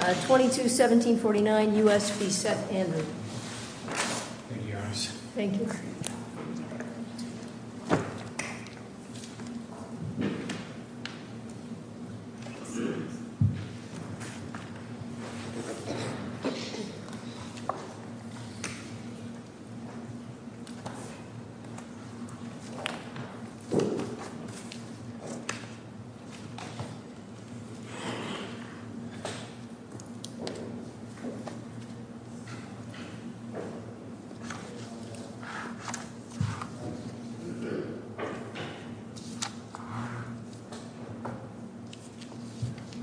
22, 1749 U.S. v. Seth Andrew. Thank you, Your Honor. Thank you.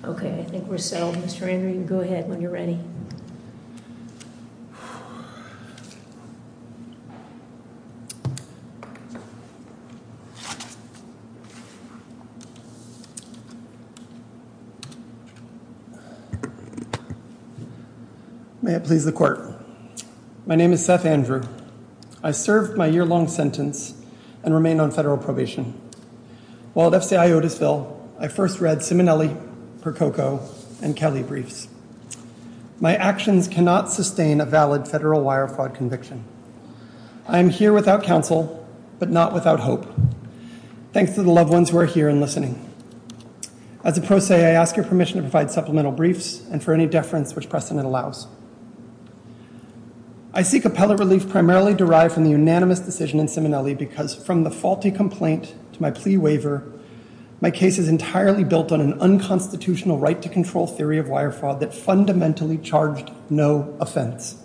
Okay, I think we're settled, Mr. Andrew, you can go ahead when you're ready. Thank you. May it please the Court. My name is Seth Andrew. I served my year-long sentence and remain on federal probation. While at FCI Otisville, I first read Simonelli, Prococo, and Kelly briefs. My actions cannot sustain a valid federal wire fraud conviction. I am here without counsel but not without hope. Thanks to the loved ones who are here and listening. As a pro se, I ask your permission to provide supplemental briefs and for any deference which precedent allows. I seek appellate relief primarily derived from the unanimous decision in Simonelli because from the faulty complaint to my plea waiver, my case is entirely built on an unconstitutional right to control theory of wire fraud that fundamentally charged no offense.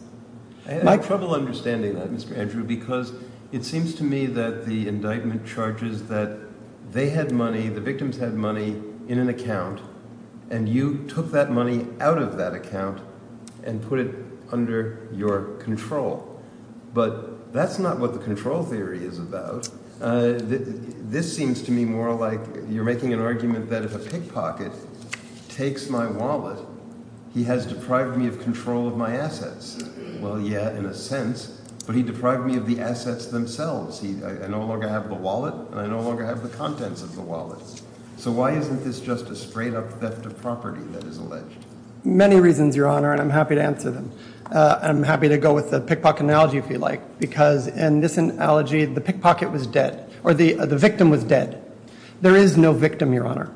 I had trouble understanding that, Mr. Andrew, because it seems to me that the indictment charges that they had money, the victims had money in an account, and you took that money out of that account and put it under your control. But that's not what the control theory is about. This seems to me more like you're making an argument that if a pickpocket takes my wallet, he has deprived me of control of my assets. Well, yeah, in a sense, but he deprived me of the assets themselves. I no longer have the wallet, and I no longer have the contents of the wallet. So why isn't this just a straight-up theft of property that is alleged? Many reasons, Your Honor, and I'm happy to answer them. I'm happy to go with the pickpocket analogy, if you like, because in this analogy, the pickpocket was dead or the victim was dead. There is no victim, Your Honor.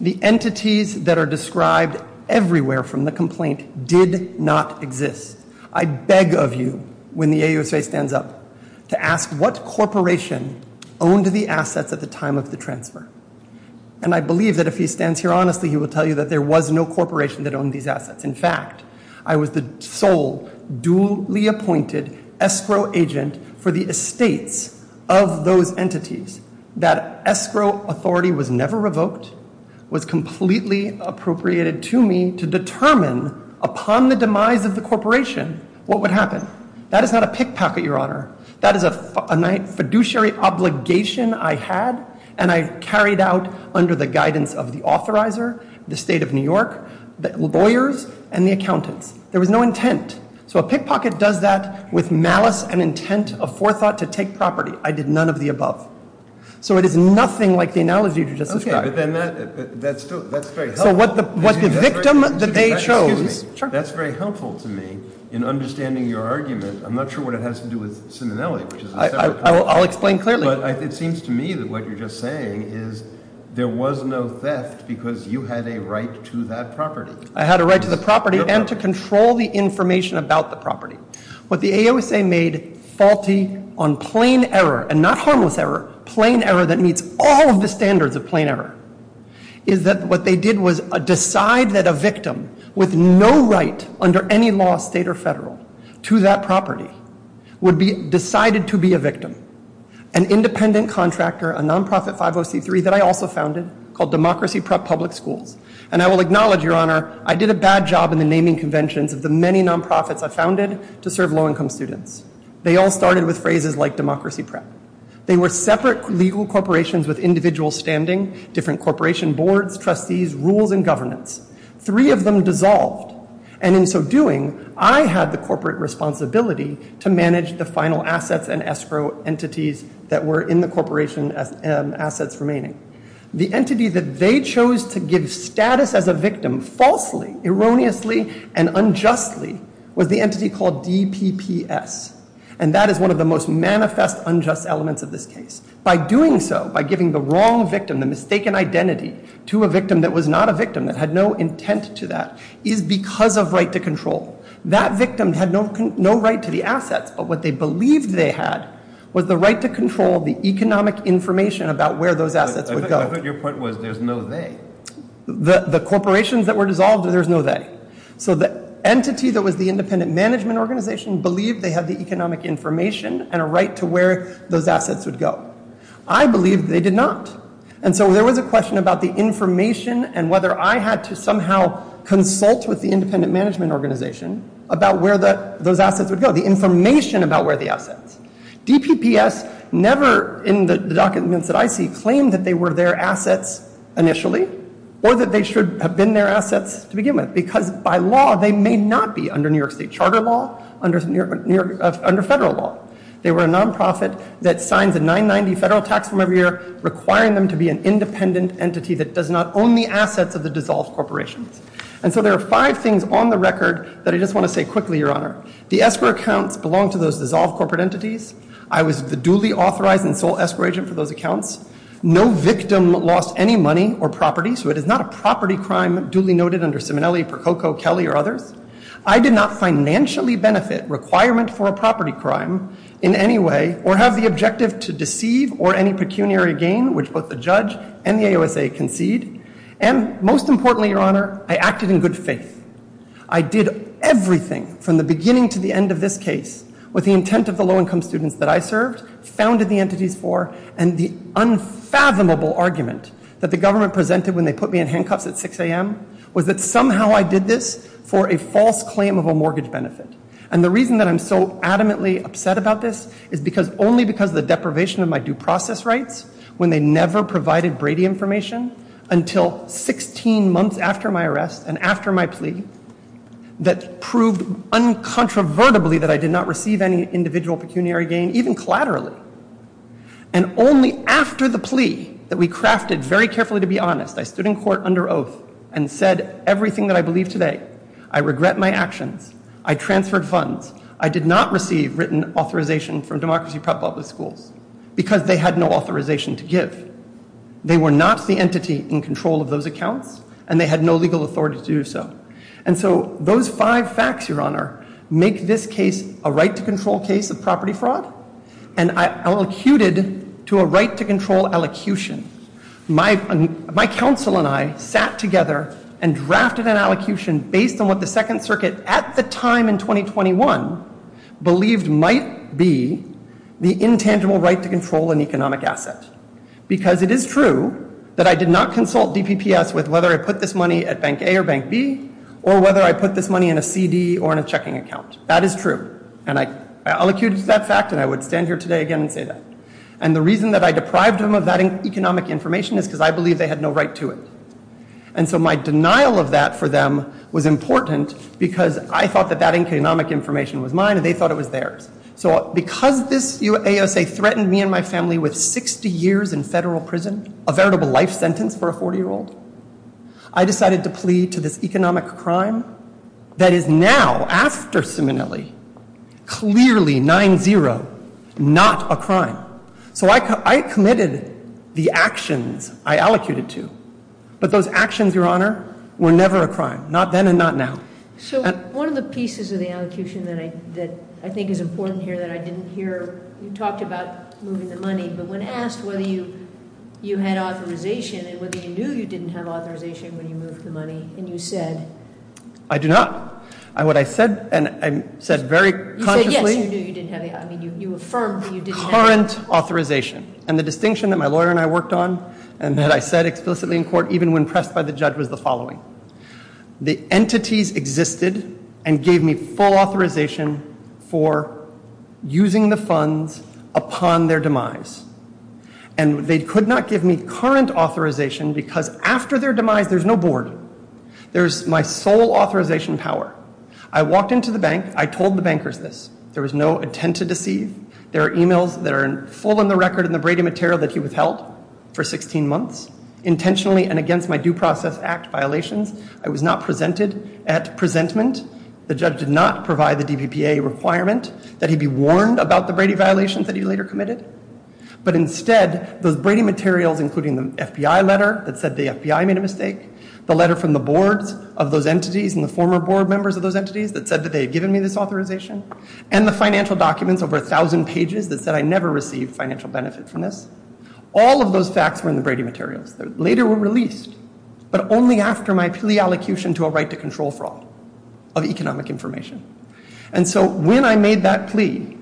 The entities that are described everywhere from the complaint did not exist. I beg of you, when the AUSA stands up, to ask what corporation owned the assets at the time of the transfer. And I believe that if he stands here honestly, he will tell you that there was no corporation that owned these assets. In fact, I was the sole duly appointed escrow agent for the estates of those entities. That escrow authority was never revoked, was completely appropriated to me to determine upon the demise of the corporation what would happen. That is not a pickpocket, Your Honor. That is a fiduciary obligation I had, and I carried out under the guidance of the authorizer, the State of New York, the lawyers, and the accountants. There was no intent. So a pickpocket does that with malice and intent of forethought to take property. I did none of the above. So it is nothing like the analogy you just described. Okay, but then that's very helpful. So what the victim that they chose- Excuse me. Sure. That's very helpful to me in understanding your argument. I'm not sure what it has to do with Ciminelli, which is a separate- I'll explain clearly. But it seems to me that what you're just saying is there was no theft because you had a right to that property. I had a right to the property and to control the information about the property. What the AOSA made faulty on plain error, and not harmless error, plain error that meets all of the standards of plain error, is that what they did was decide that a victim with no right under any law, state or federal, to that property, would be decided to be a victim. An independent contractor, a nonprofit 50C3 that I also founded, called Democracy Prep Public Schools. And I will acknowledge, Your Honor, I did a bad job in the naming conventions of the many nonprofits I founded to serve low-income students. They all started with phrases like Democracy Prep. They were separate legal corporations with individual standing, different corporation boards, trustees, rules and governance. Three of them dissolved. And in so doing, I had the corporate responsibility to manage the final assets and escrow entities that were in the corporation assets remaining. The entity that they chose to give status as a victim, falsely, erroneously, and unjustly, was the entity called DPPS. And that is one of the most manifest unjust elements of this case. By doing so, by giving the wrong victim, the mistaken identity, to a victim that was not a victim, that had no intent to that, is because of right to control. That victim had no right to the assets. But what they believed they had was the right to control the economic information about where those assets would go. I thought your point was there's no they. The corporations that were dissolved, there's no they. So the entity that was the independent management organization believed they had the economic information and a right to where those assets would go. I believed they did not. And so there was a question about the information and whether I had to somehow consult with the independent management organization about where those assets would go. The information about where the assets. DPPS never, in the documents that I see, claimed that they were their assets initially, or that they should have been their assets to begin with. Because by law, they may not be under New York State charter law, under federal law. They were a non-profit that signs a 990 federal tax form every year, requiring them to be an independent entity that does not own the assets of the dissolved corporations. And so there are five things on the record that I just want to say quickly, Your Honor. The escrow accounts belong to those dissolved corporate entities. I was the duly authorized and sole escrow agent for those accounts. No victim lost any money or property. So it is not a property crime duly noted under Simonelli, Prococo, Kelly, or others. I did not financially benefit requirement for a property crime in any way, or have the objective to deceive or any pecuniary gain, which both the judge and the AOSA concede. And most importantly, Your Honor, I acted in good faith. I did everything from the beginning to the end of this case with the intent of the low-income students that I served, founded the entities for, and the unfathomable argument that the government presented when they put me in handcuffs at 6 a.m. was that somehow I did this for a false claim of a mortgage benefit. And the reason that I'm so adamantly upset about this is because only because of the deprivation of my due process rights, when they never provided Brady information, until 16 months after my arrest and after my plea, that proved uncontrovertibly that I did not receive any individual pecuniary gain, even collaterally. And only after the plea that we crafted very carefully, to be honest, I stood in court under oath and said everything that I believe today. I regret my actions. I transferred funds. I did not receive written authorization from Democracy Prep Public Schools because they had no authorization to give. They were not the entity in control of those accounts, and they had no legal authority to do so. And so those five facts, Your Honor, make this case a right-to-control case of property fraud, and I elocuted to a right-to-control elocution. My counsel and I sat together and drafted an elocution based on what the Second Circuit, at the time in 2021, believed might be the intangible right to control an economic asset. Because it is true that I did not consult DPPS with whether I put this money at Bank A or Bank B, or whether I put this money in a CD or in a checking account. That is true. And I elocuted to that fact, and I would stand here today again and say that. And the reason that I deprived them of that economic information is because I believe they had no right to it. And so my denial of that for them was important because I thought that that economic information was mine and they thought it was theirs. So because this USA threatened me and my family with 60 years in federal prison, a veritable life sentence for a 40-year-old, I decided to plead to this economic crime that is now, after Simonelli, clearly 9-0, not a crime. So I committed the actions I elocuted to, but those actions, Your Honor, were never a crime. Not then and not now. So one of the pieces of the elocution that I think is important here that I didn't hear, you talked about moving the money, but when asked whether you had authorization and whether you knew you didn't have authorization when you moved the money and you said... I do not. What I said, and I said very consciously... You said yes, you knew you didn't have, I mean, you affirmed that you didn't have... ...current authorization. And the distinction that my lawyer and I worked on and that I said explicitly in court, even when pressed by the judge, was the following. The entities existed and gave me full authorization for using the funds upon their demise. And they could not give me current authorization because after their demise, there's no board. There's my sole authorization power. I walked into the bank. I told the bankers this. There was no intent to deceive. There are emails that are full on the record in the Brady material that he withheld for 16 months, intentionally and against my Due Process Act violations. I was not presented at presentment. The judge did not provide the DPPA requirement that he be warned about the Brady violations that he later committed. But instead, those Brady materials, including the FBI letter that said the FBI made a mistake, the letter from the boards of those entities and the former board members of those entities that said that they had given me this authorization, and the financial documents, over 1,000 pages, that said I never received financial benefit from this. All of those facts were in the Brady materials that later were released, but only after my plea allocution to a right to control fraud of economic information. And so when I made that plea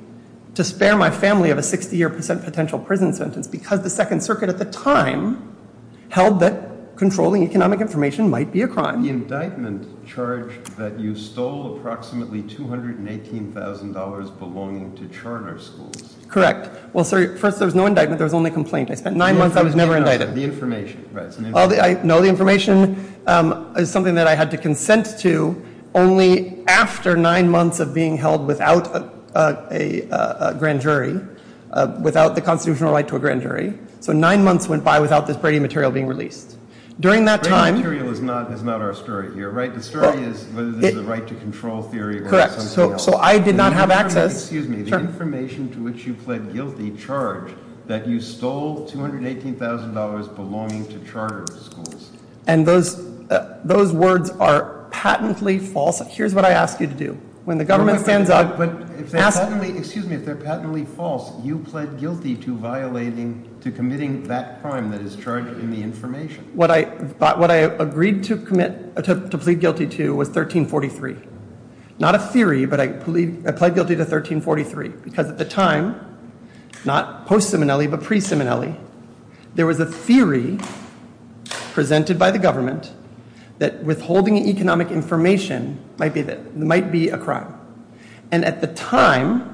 to spare my family of a 60-year potential prison sentence because the Second Circuit at the time held that controlling economic information might be a crime. The indictment charged that you stole approximately $218,000 belonging to charter schools. Correct. Well, first, there was no indictment. There was only a complaint. I spent nine months. I was never indicted. The information. No, the information is something that I had to consent to only after nine months of being held without a grand jury, without the constitutional right to a grand jury. So nine months went by without this Brady material being released. Brady material is not our story here, right? The story is whether there's a right to control theory or something else. Correct. So I did not have access. Excuse me. The information to which you pled guilty charged that you stole $218,000 belonging to charter schools. And those words are patently false. Here's what I ask you to do. When the government stands up. But if they're patently false, you pled guilty to violating, to committing that crime that is charged in the information. What I agreed to commit, to plead guilty to was 1343. Not a theory, but I plead guilty to 1343 because at the time, not post-Simonelli, but pre-Simonelli, there was a theory presented by the government that withholding economic information might be a crime. And at the time,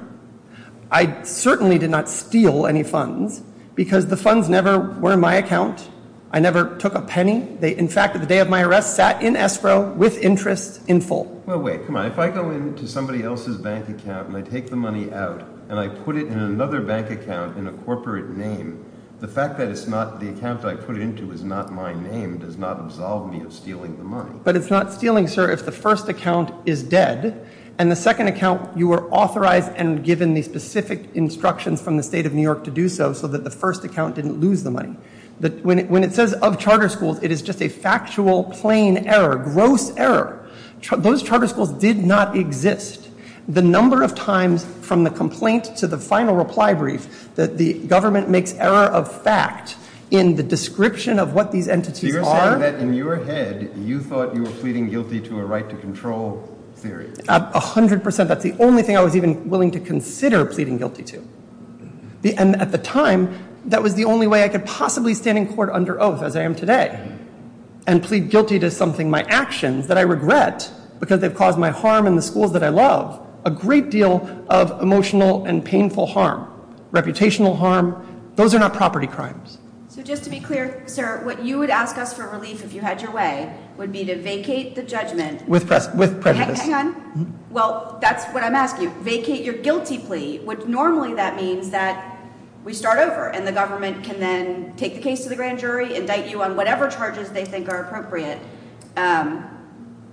I certainly did not steal any funds because the funds never were in my account. I never took a penny. In fact, at the day of my arrest, sat in escrow with interest in full. Well, wait. Come on. If I go into somebody else's bank account and I take the money out and I put it in another bank account in a corporate name, the fact that it's not the account I put it into is not my name does not absolve me of stealing the money. But it's not stealing, sir, if the first account is dead and the second account, you were authorized and given the specific instructions from the state of New York to do so, so that the first account didn't lose the money. When it says of charter schools, it is just a factual, plain error, gross error. Those charter schools did not exist. The number of times from the complaint to the final reply brief that the government makes error of fact in the description of what these entities are. You're saying that in your head, you thought you were pleading guilty to a right to control theory. A hundred percent. That's the only thing I was even willing to consider pleading guilty to. And at the time, that was the only way I could possibly stand in court under oath as I am today and plead guilty to something, my actions that I regret because they've caused my harm in the schools that I love, a great deal of emotional and painful harm, reputational harm. Those are not property crimes. So just to be clear, sir, what you would ask us for relief if you had your way would be to vacate the judgment. With prejudice. Well, that's what I'm asking. Vacate your guilty plea, which normally that means that we start over and the government can then take the case to the grand jury, indict you on whatever charges they think are appropriate.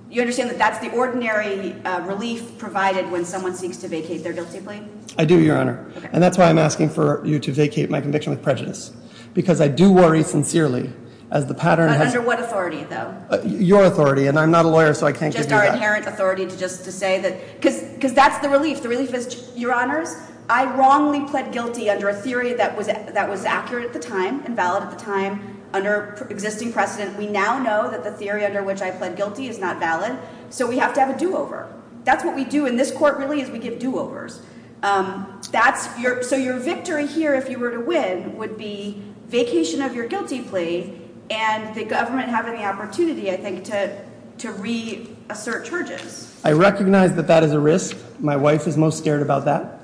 You understand that that's the ordinary relief provided when someone seeks to vacate their guilty plea? I do, Your Honor. And that's why I'm asking for you to vacate my conviction with prejudice, because I do worry sincerely as the pattern. Under what authority, though? Your authority. And I'm not a lawyer, so I can't give you that. It's just our inherent authority to just to say that because because that's the relief. The relief is, Your Honors, I wrongly pled guilty under a theory that was that was accurate at the time and valid at the time. Under existing precedent, we now know that the theory under which I pled guilty is not valid. So we have to have a do over. That's what we do in this court, really, is we give do overs. That's your so your victory here, if you were to win, would be vacation of your guilty plea. And the government having the opportunity, I think, to to reassert charges. I recognize that that is a risk. My wife is most scared about that.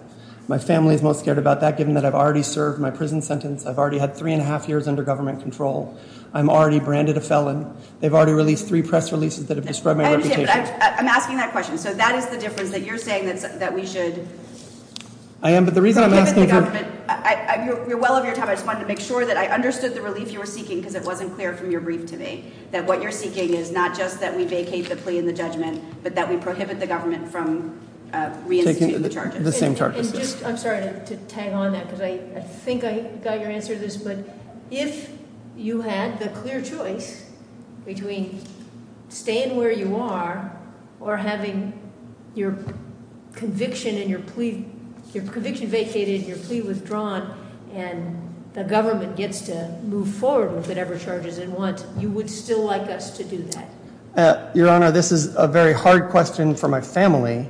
My family is most scared about that, given that I've already served my prison sentence. I've already had three and a half years under government control. I'm already branded a felon. They've already released three press releases that have described my reputation. I'm asking that question. So that is the difference that you're saying that that we should. I am. But the reason I'm asking, you're well over your time. I just want to make sure that I understood the relief you were seeking because it wasn't clear from your brief to me that what you're seeking is not just that we vacate the plea in the judgment, but that we prohibit the government from reinstating the charges. I'm sorry to tag on that because I think I got your answer to this. But if you had the clear choice between staying where you are or having your conviction and your plea, your conviction vacated, your plea withdrawn and the government gets to move forward with whatever charges and what you would still like us to do that. Your Honor, this is a very hard question for my family,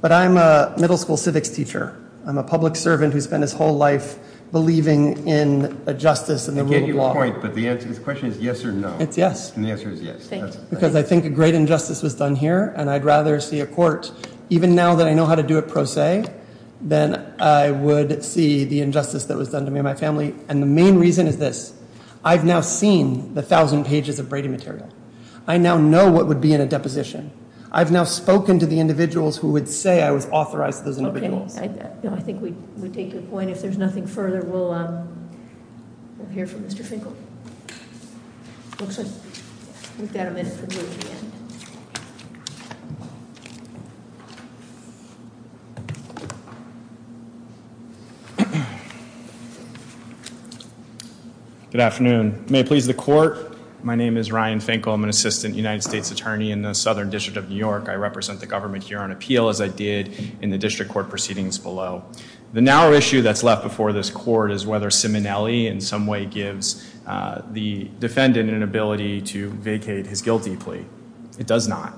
but I'm a middle school civics teacher. I'm a public servant who spent his whole life believing in a justice and the law. But the question is yes or no. It's yes. And the answer is yes. Because I think a great injustice was done here. And I'd rather see a court, even now that I know how to do it pro se, then I would see the injustice that was done to me and my family. And the main reason is this. I've now seen the thousand pages of Brady material. I now know what would be in a deposition. I've now spoken to the individuals who would say I was authorized to those individuals. I think we take your point. If there's nothing further, we'll hear from Mr. Finkel. Good afternoon. May please the court. My name is Ryan Finkel. I'm an assistant United States attorney in the Southern District of New York. I represent the government here on appeal, as I did in the district court proceedings below. The narrow issue that's left before this court is whether Simonelli in some way gives the defendant an ability to vacate his guilty plea. It does not.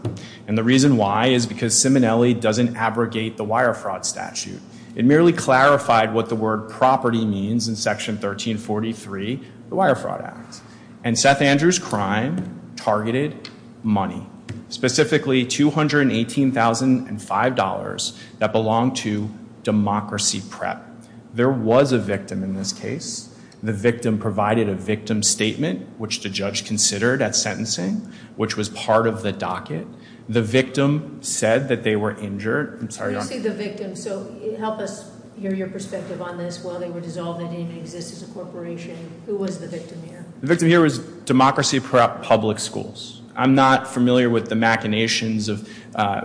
And the reason why is because Simonelli doesn't abrogate the wire fraud statute. It merely clarified what the word property means in Section 1343, the Wire Fraud Act. And Seth Andrews' crime targeted money, specifically $218,005 that belonged to Democracy Prep. There was a victim in this case. The victim provided a victim statement, which the judge considered at sentencing, which was part of the docket. The victim said that they were injured. I'm sorry, Your Honor. You see the victim. So help us hear your perspective on this. While they were dissolved, they didn't even exist as a corporation. Who was the victim here? The victim here was Democracy Prep Public Schools. I'm not familiar with the machinations of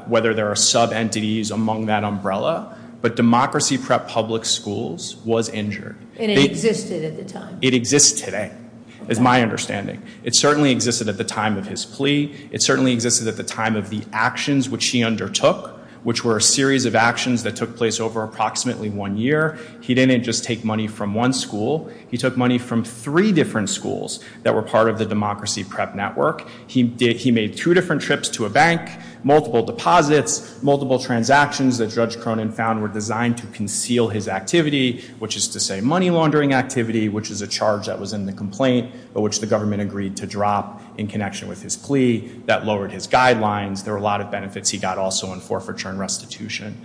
whether there are sub-entities among that umbrella. But Democracy Prep Public Schools was injured. And it existed at the time? It exists today, is my understanding. It certainly existed at the time of his plea. It certainly existed at the time of the actions which he undertook, which were a series of actions that took place over approximately one year. He didn't just take money from one school. He took money from three different schools that were part of the Democracy Prep network. He made two different trips to a bank, multiple deposits, multiple transactions that Judge Cronin found were designed to conceal his activity, which is to say money laundering activity, which is a charge that was in the complaint, but which the government agreed to drop in connection with his plea that lowered his guidelines. There were a lot of benefits he got also in forfeiture and restitution.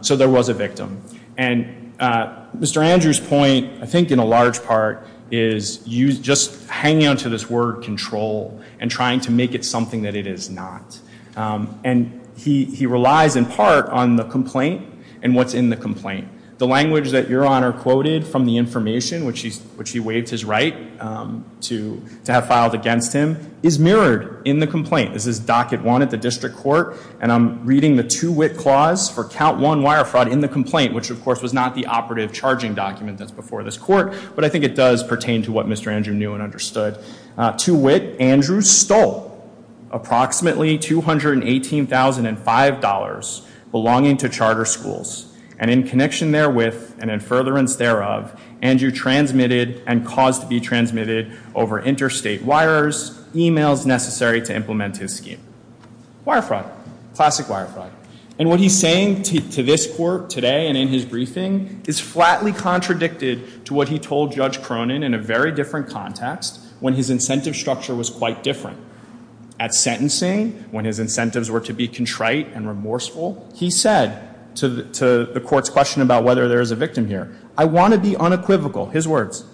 So there was a victim. And Mr. Andrews' point, I think in a large part, is just hanging on to this word control and trying to make it something that it is not. And he relies in part on the complaint and what's in the complaint. The language that Your Honor quoted from the information, which he waived his right to have filed against him, is mirrored in the complaint. This is docket one at the district court. And I'm reading the two-wit clause for count one wire fraud in the complaint, which of course was not the operative charging document that's before this court. But I think it does pertain to what Mr. Andrew knew and understood. Two-wit, Andrews stole approximately $218,005 belonging to charter schools. And in connection therewith and in furtherance thereof, Andrew transmitted and caused to be transmitted over interstate wires, emails necessary to implement his scheme. Wire fraud, classic wire fraud. And what he's saying to this court today and in his briefing is flatly contradicted to what he told Judge Cronin in a very different context when his incentive structure was quite different. At sentencing, when his incentives were to be contrite and remorseful, he said to the court's question about whether there is a victim here, I want to be unequivocal, his words,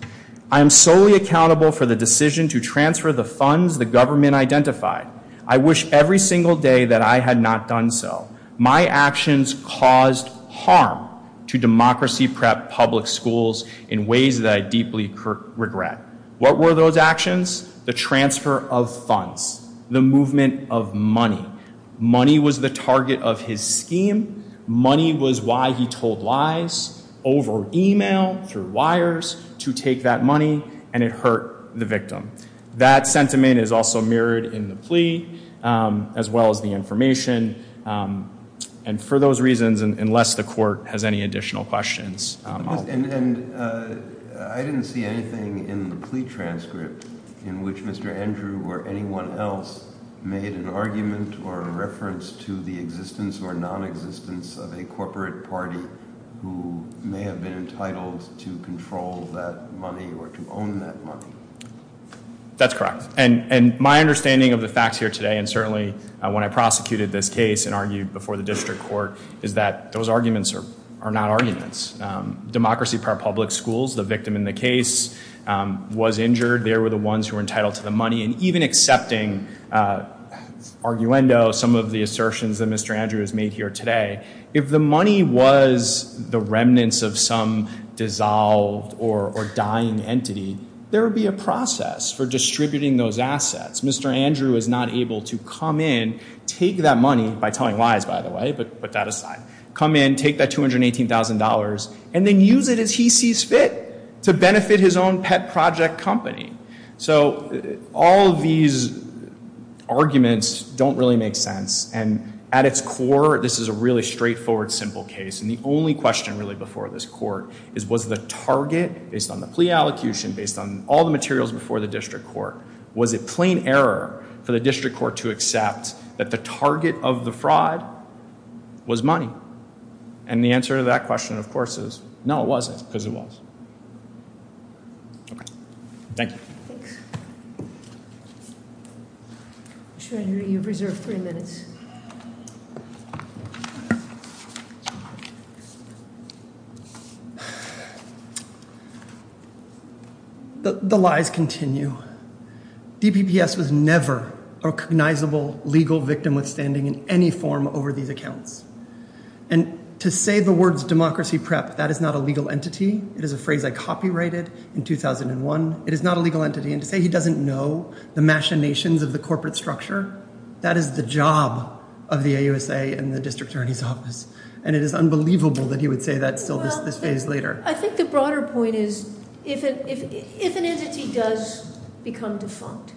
I am solely accountable for the decision to transfer the funds the government identified. I wish every single day that I had not done so. My actions caused harm to democracy prep public schools in ways that I deeply regret. What were those actions? The transfer of funds. The movement of money. Money was the target of his scheme. Money was why he told lies over email, through wires, to take that money. And it hurt the victim. That sentiment is also mirrored in the plea as well as the information. And for those reasons, unless the court has any additional questions. And I didn't see anything in the plea transcript in which Mr. Andrew or anyone else made an argument or a reference to the existence or nonexistence of a corporate party who may have been entitled to control that money or to own that money. That's correct. And my understanding of the facts here today and certainly when I prosecuted this case and that those arguments are not arguments. Democracy Prep Public Schools, the victim in the case, was injured. They were the ones who were entitled to the money. And even accepting arguendo, some of the assertions that Mr. Andrew has made here today. If the money was the remnants of some dissolved or dying entity, there would be a process for distributing those assets. Mr. Andrew is not able to come in, take that money, by telling lies, by the way, but put that aside. Come in, take that $218,000, and then use it as he sees fit to benefit his own pet project company. So all of these arguments don't really make sense. And at its core, this is a really straightforward, simple case. And the only question really before this court is was the target, based on the plea allocution, based on all the materials before the district court, was it plain error for the district court to accept that the target of the fraud was money? And the answer to that question, of course, is no, it wasn't, because it was. Okay. Thank you. Thanks. Mr. Andrew, you have reserved three minutes. The lies continue. DPPS was never a recognizable legal victim withstanding in any form over these accounts. And to say the words democracy prep, that is not a legal entity. It is a phrase I copyrighted in 2001. It is not a legal entity. And to say he doesn't know the machinations of the corporate structure, that is the job of the AUSA and the district attorney's office. And it is unbelievable that he would say that still this phase later. I think the broader point is if an entity does become defunct,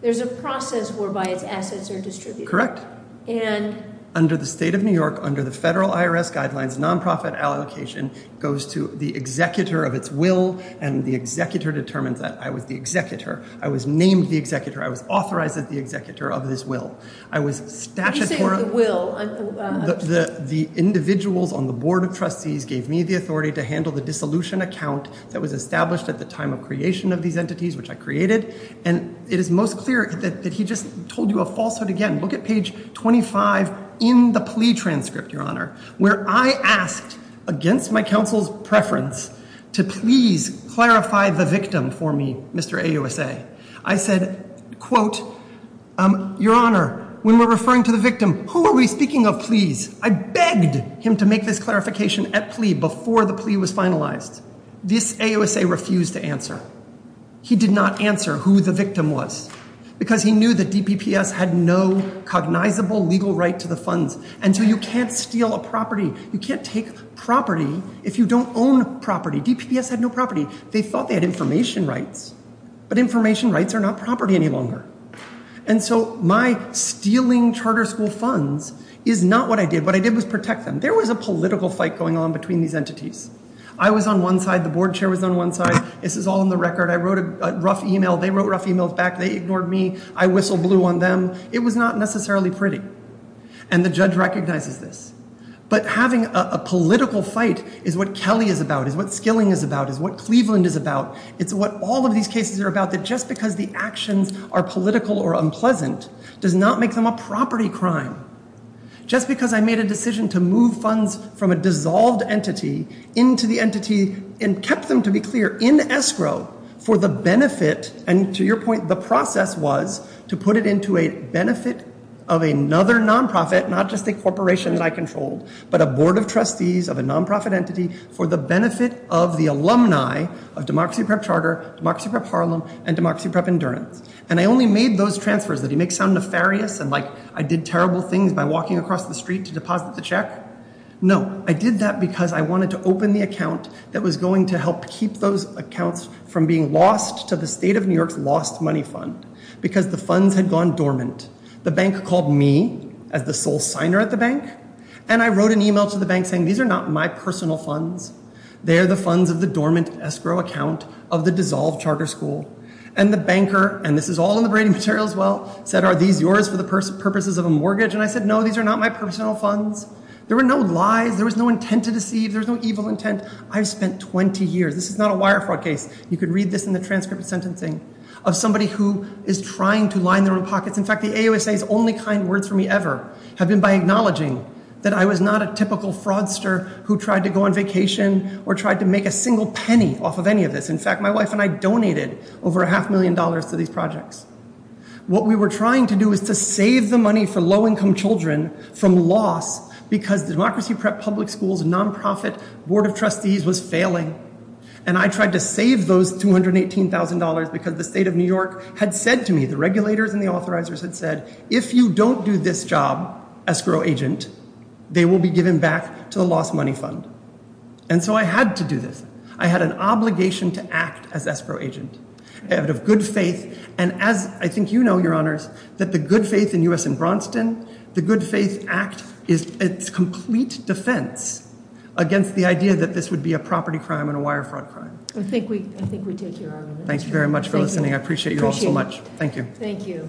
there's a process whereby its assets are distributed. And under the state of New York, under the federal IRS guidelines, nonprofit allocation goes to the executor of its will, and the executor determines that I was the executor. I was named the executor. I was authorized as the executor of this will. I was statutory. What do you say is the will? The individuals on the board of trustees gave me the authority to handle the dissolution account that was established at the time of creation of these entities, which I created. And it is most clear that he just told you a falsehood again. Look at page 25 in the plea transcript, Your Honor, where I asked against my counsel's preference to please clarify the victim for me, Mr. AUSA. I said, quote, Your Honor, when we're referring to the victim, who are we speaking of, please? I begged him to make this clarification at plea before the plea was finalized. This AUSA refused to answer. He did not answer who the victim was because he knew that DPPS had no cognizable legal right to the funds. And so you can't steal a property. You can't take property if you don't own property. DPPS had no property. They thought they had information rights, but information rights are not property any longer. And so my stealing charter school funds is not what I did. What I did was protect them. There was a political fight going on between these entities. I was on one side. The board chair was on one side. This is all on the record. I wrote a rough e-mail. They wrote rough e-mails back. They ignored me. I whistle blew on them. It was not necessarily pretty. And the judge recognizes this. But having a political fight is what Kelly is about, is what Skilling is about, is what Cleveland is about. It's what all of these cases are about, that just because the actions are political or unpleasant does not make them a property crime. Just because I made a decision to move funds from a dissolved entity into the entity and kept them, to be clear, in escrow for the benefit, and to your point, the process was to put it into a benefit of another nonprofit, not just a corporation that I controlled, but a board of trustees of a nonprofit entity for the benefit of the alumni of Democracy Prep Charter, Democracy Prep Harlem, and Democracy Prep Endurance. And I only made those transfers. Did it make it sound nefarious and like I did terrible things by walking across the street to deposit the check? No. I did that because I wanted to open the account that was going to help keep those accounts from being lost to the state of New York's lost money fund because the funds had gone dormant. The bank called me as the sole signer at the bank, and I wrote an e-mail to the bank saying these are not my personal funds. They are the funds of the dormant escrow account of the dissolved charter school. And the banker, and this is all in the Brady material as well, said, are these yours for the purposes of a mortgage? And I said, no, these are not my personal funds. There were no lies. There was no intent to deceive. There was no evil intent. I've spent 20 years. This is not a wire fraud case. You could read this in the transcript of sentencing of somebody who is trying to line their own pockets. In fact, the AUSA's only kind words for me ever have been by acknowledging that I was not a typical fraudster who tried to go on vacation or tried to make a single penny off of any of this. In fact, my wife and I donated over a half million dollars to these projects. What we were trying to do is to save the money for low-income children from loss because the Democracy Prep Public Schools nonprofit board of trustees was failing. And I tried to save those $218,000 because the state of New York had said to me, the regulators and the authorizers had said, if you don't do this job, escrow agent, they will be given back to the lost money fund. And so I had to do this. I had an obligation to act as escrow agent. And as I think you know, your honors, that the good faith in U.S. and Braunston, the good faith act is its complete defense against the idea that this would be a property crime and a wire fraud crime. I think we take your argument. Thank you very much for listening. I appreciate you all so much. Thank you. Thank you.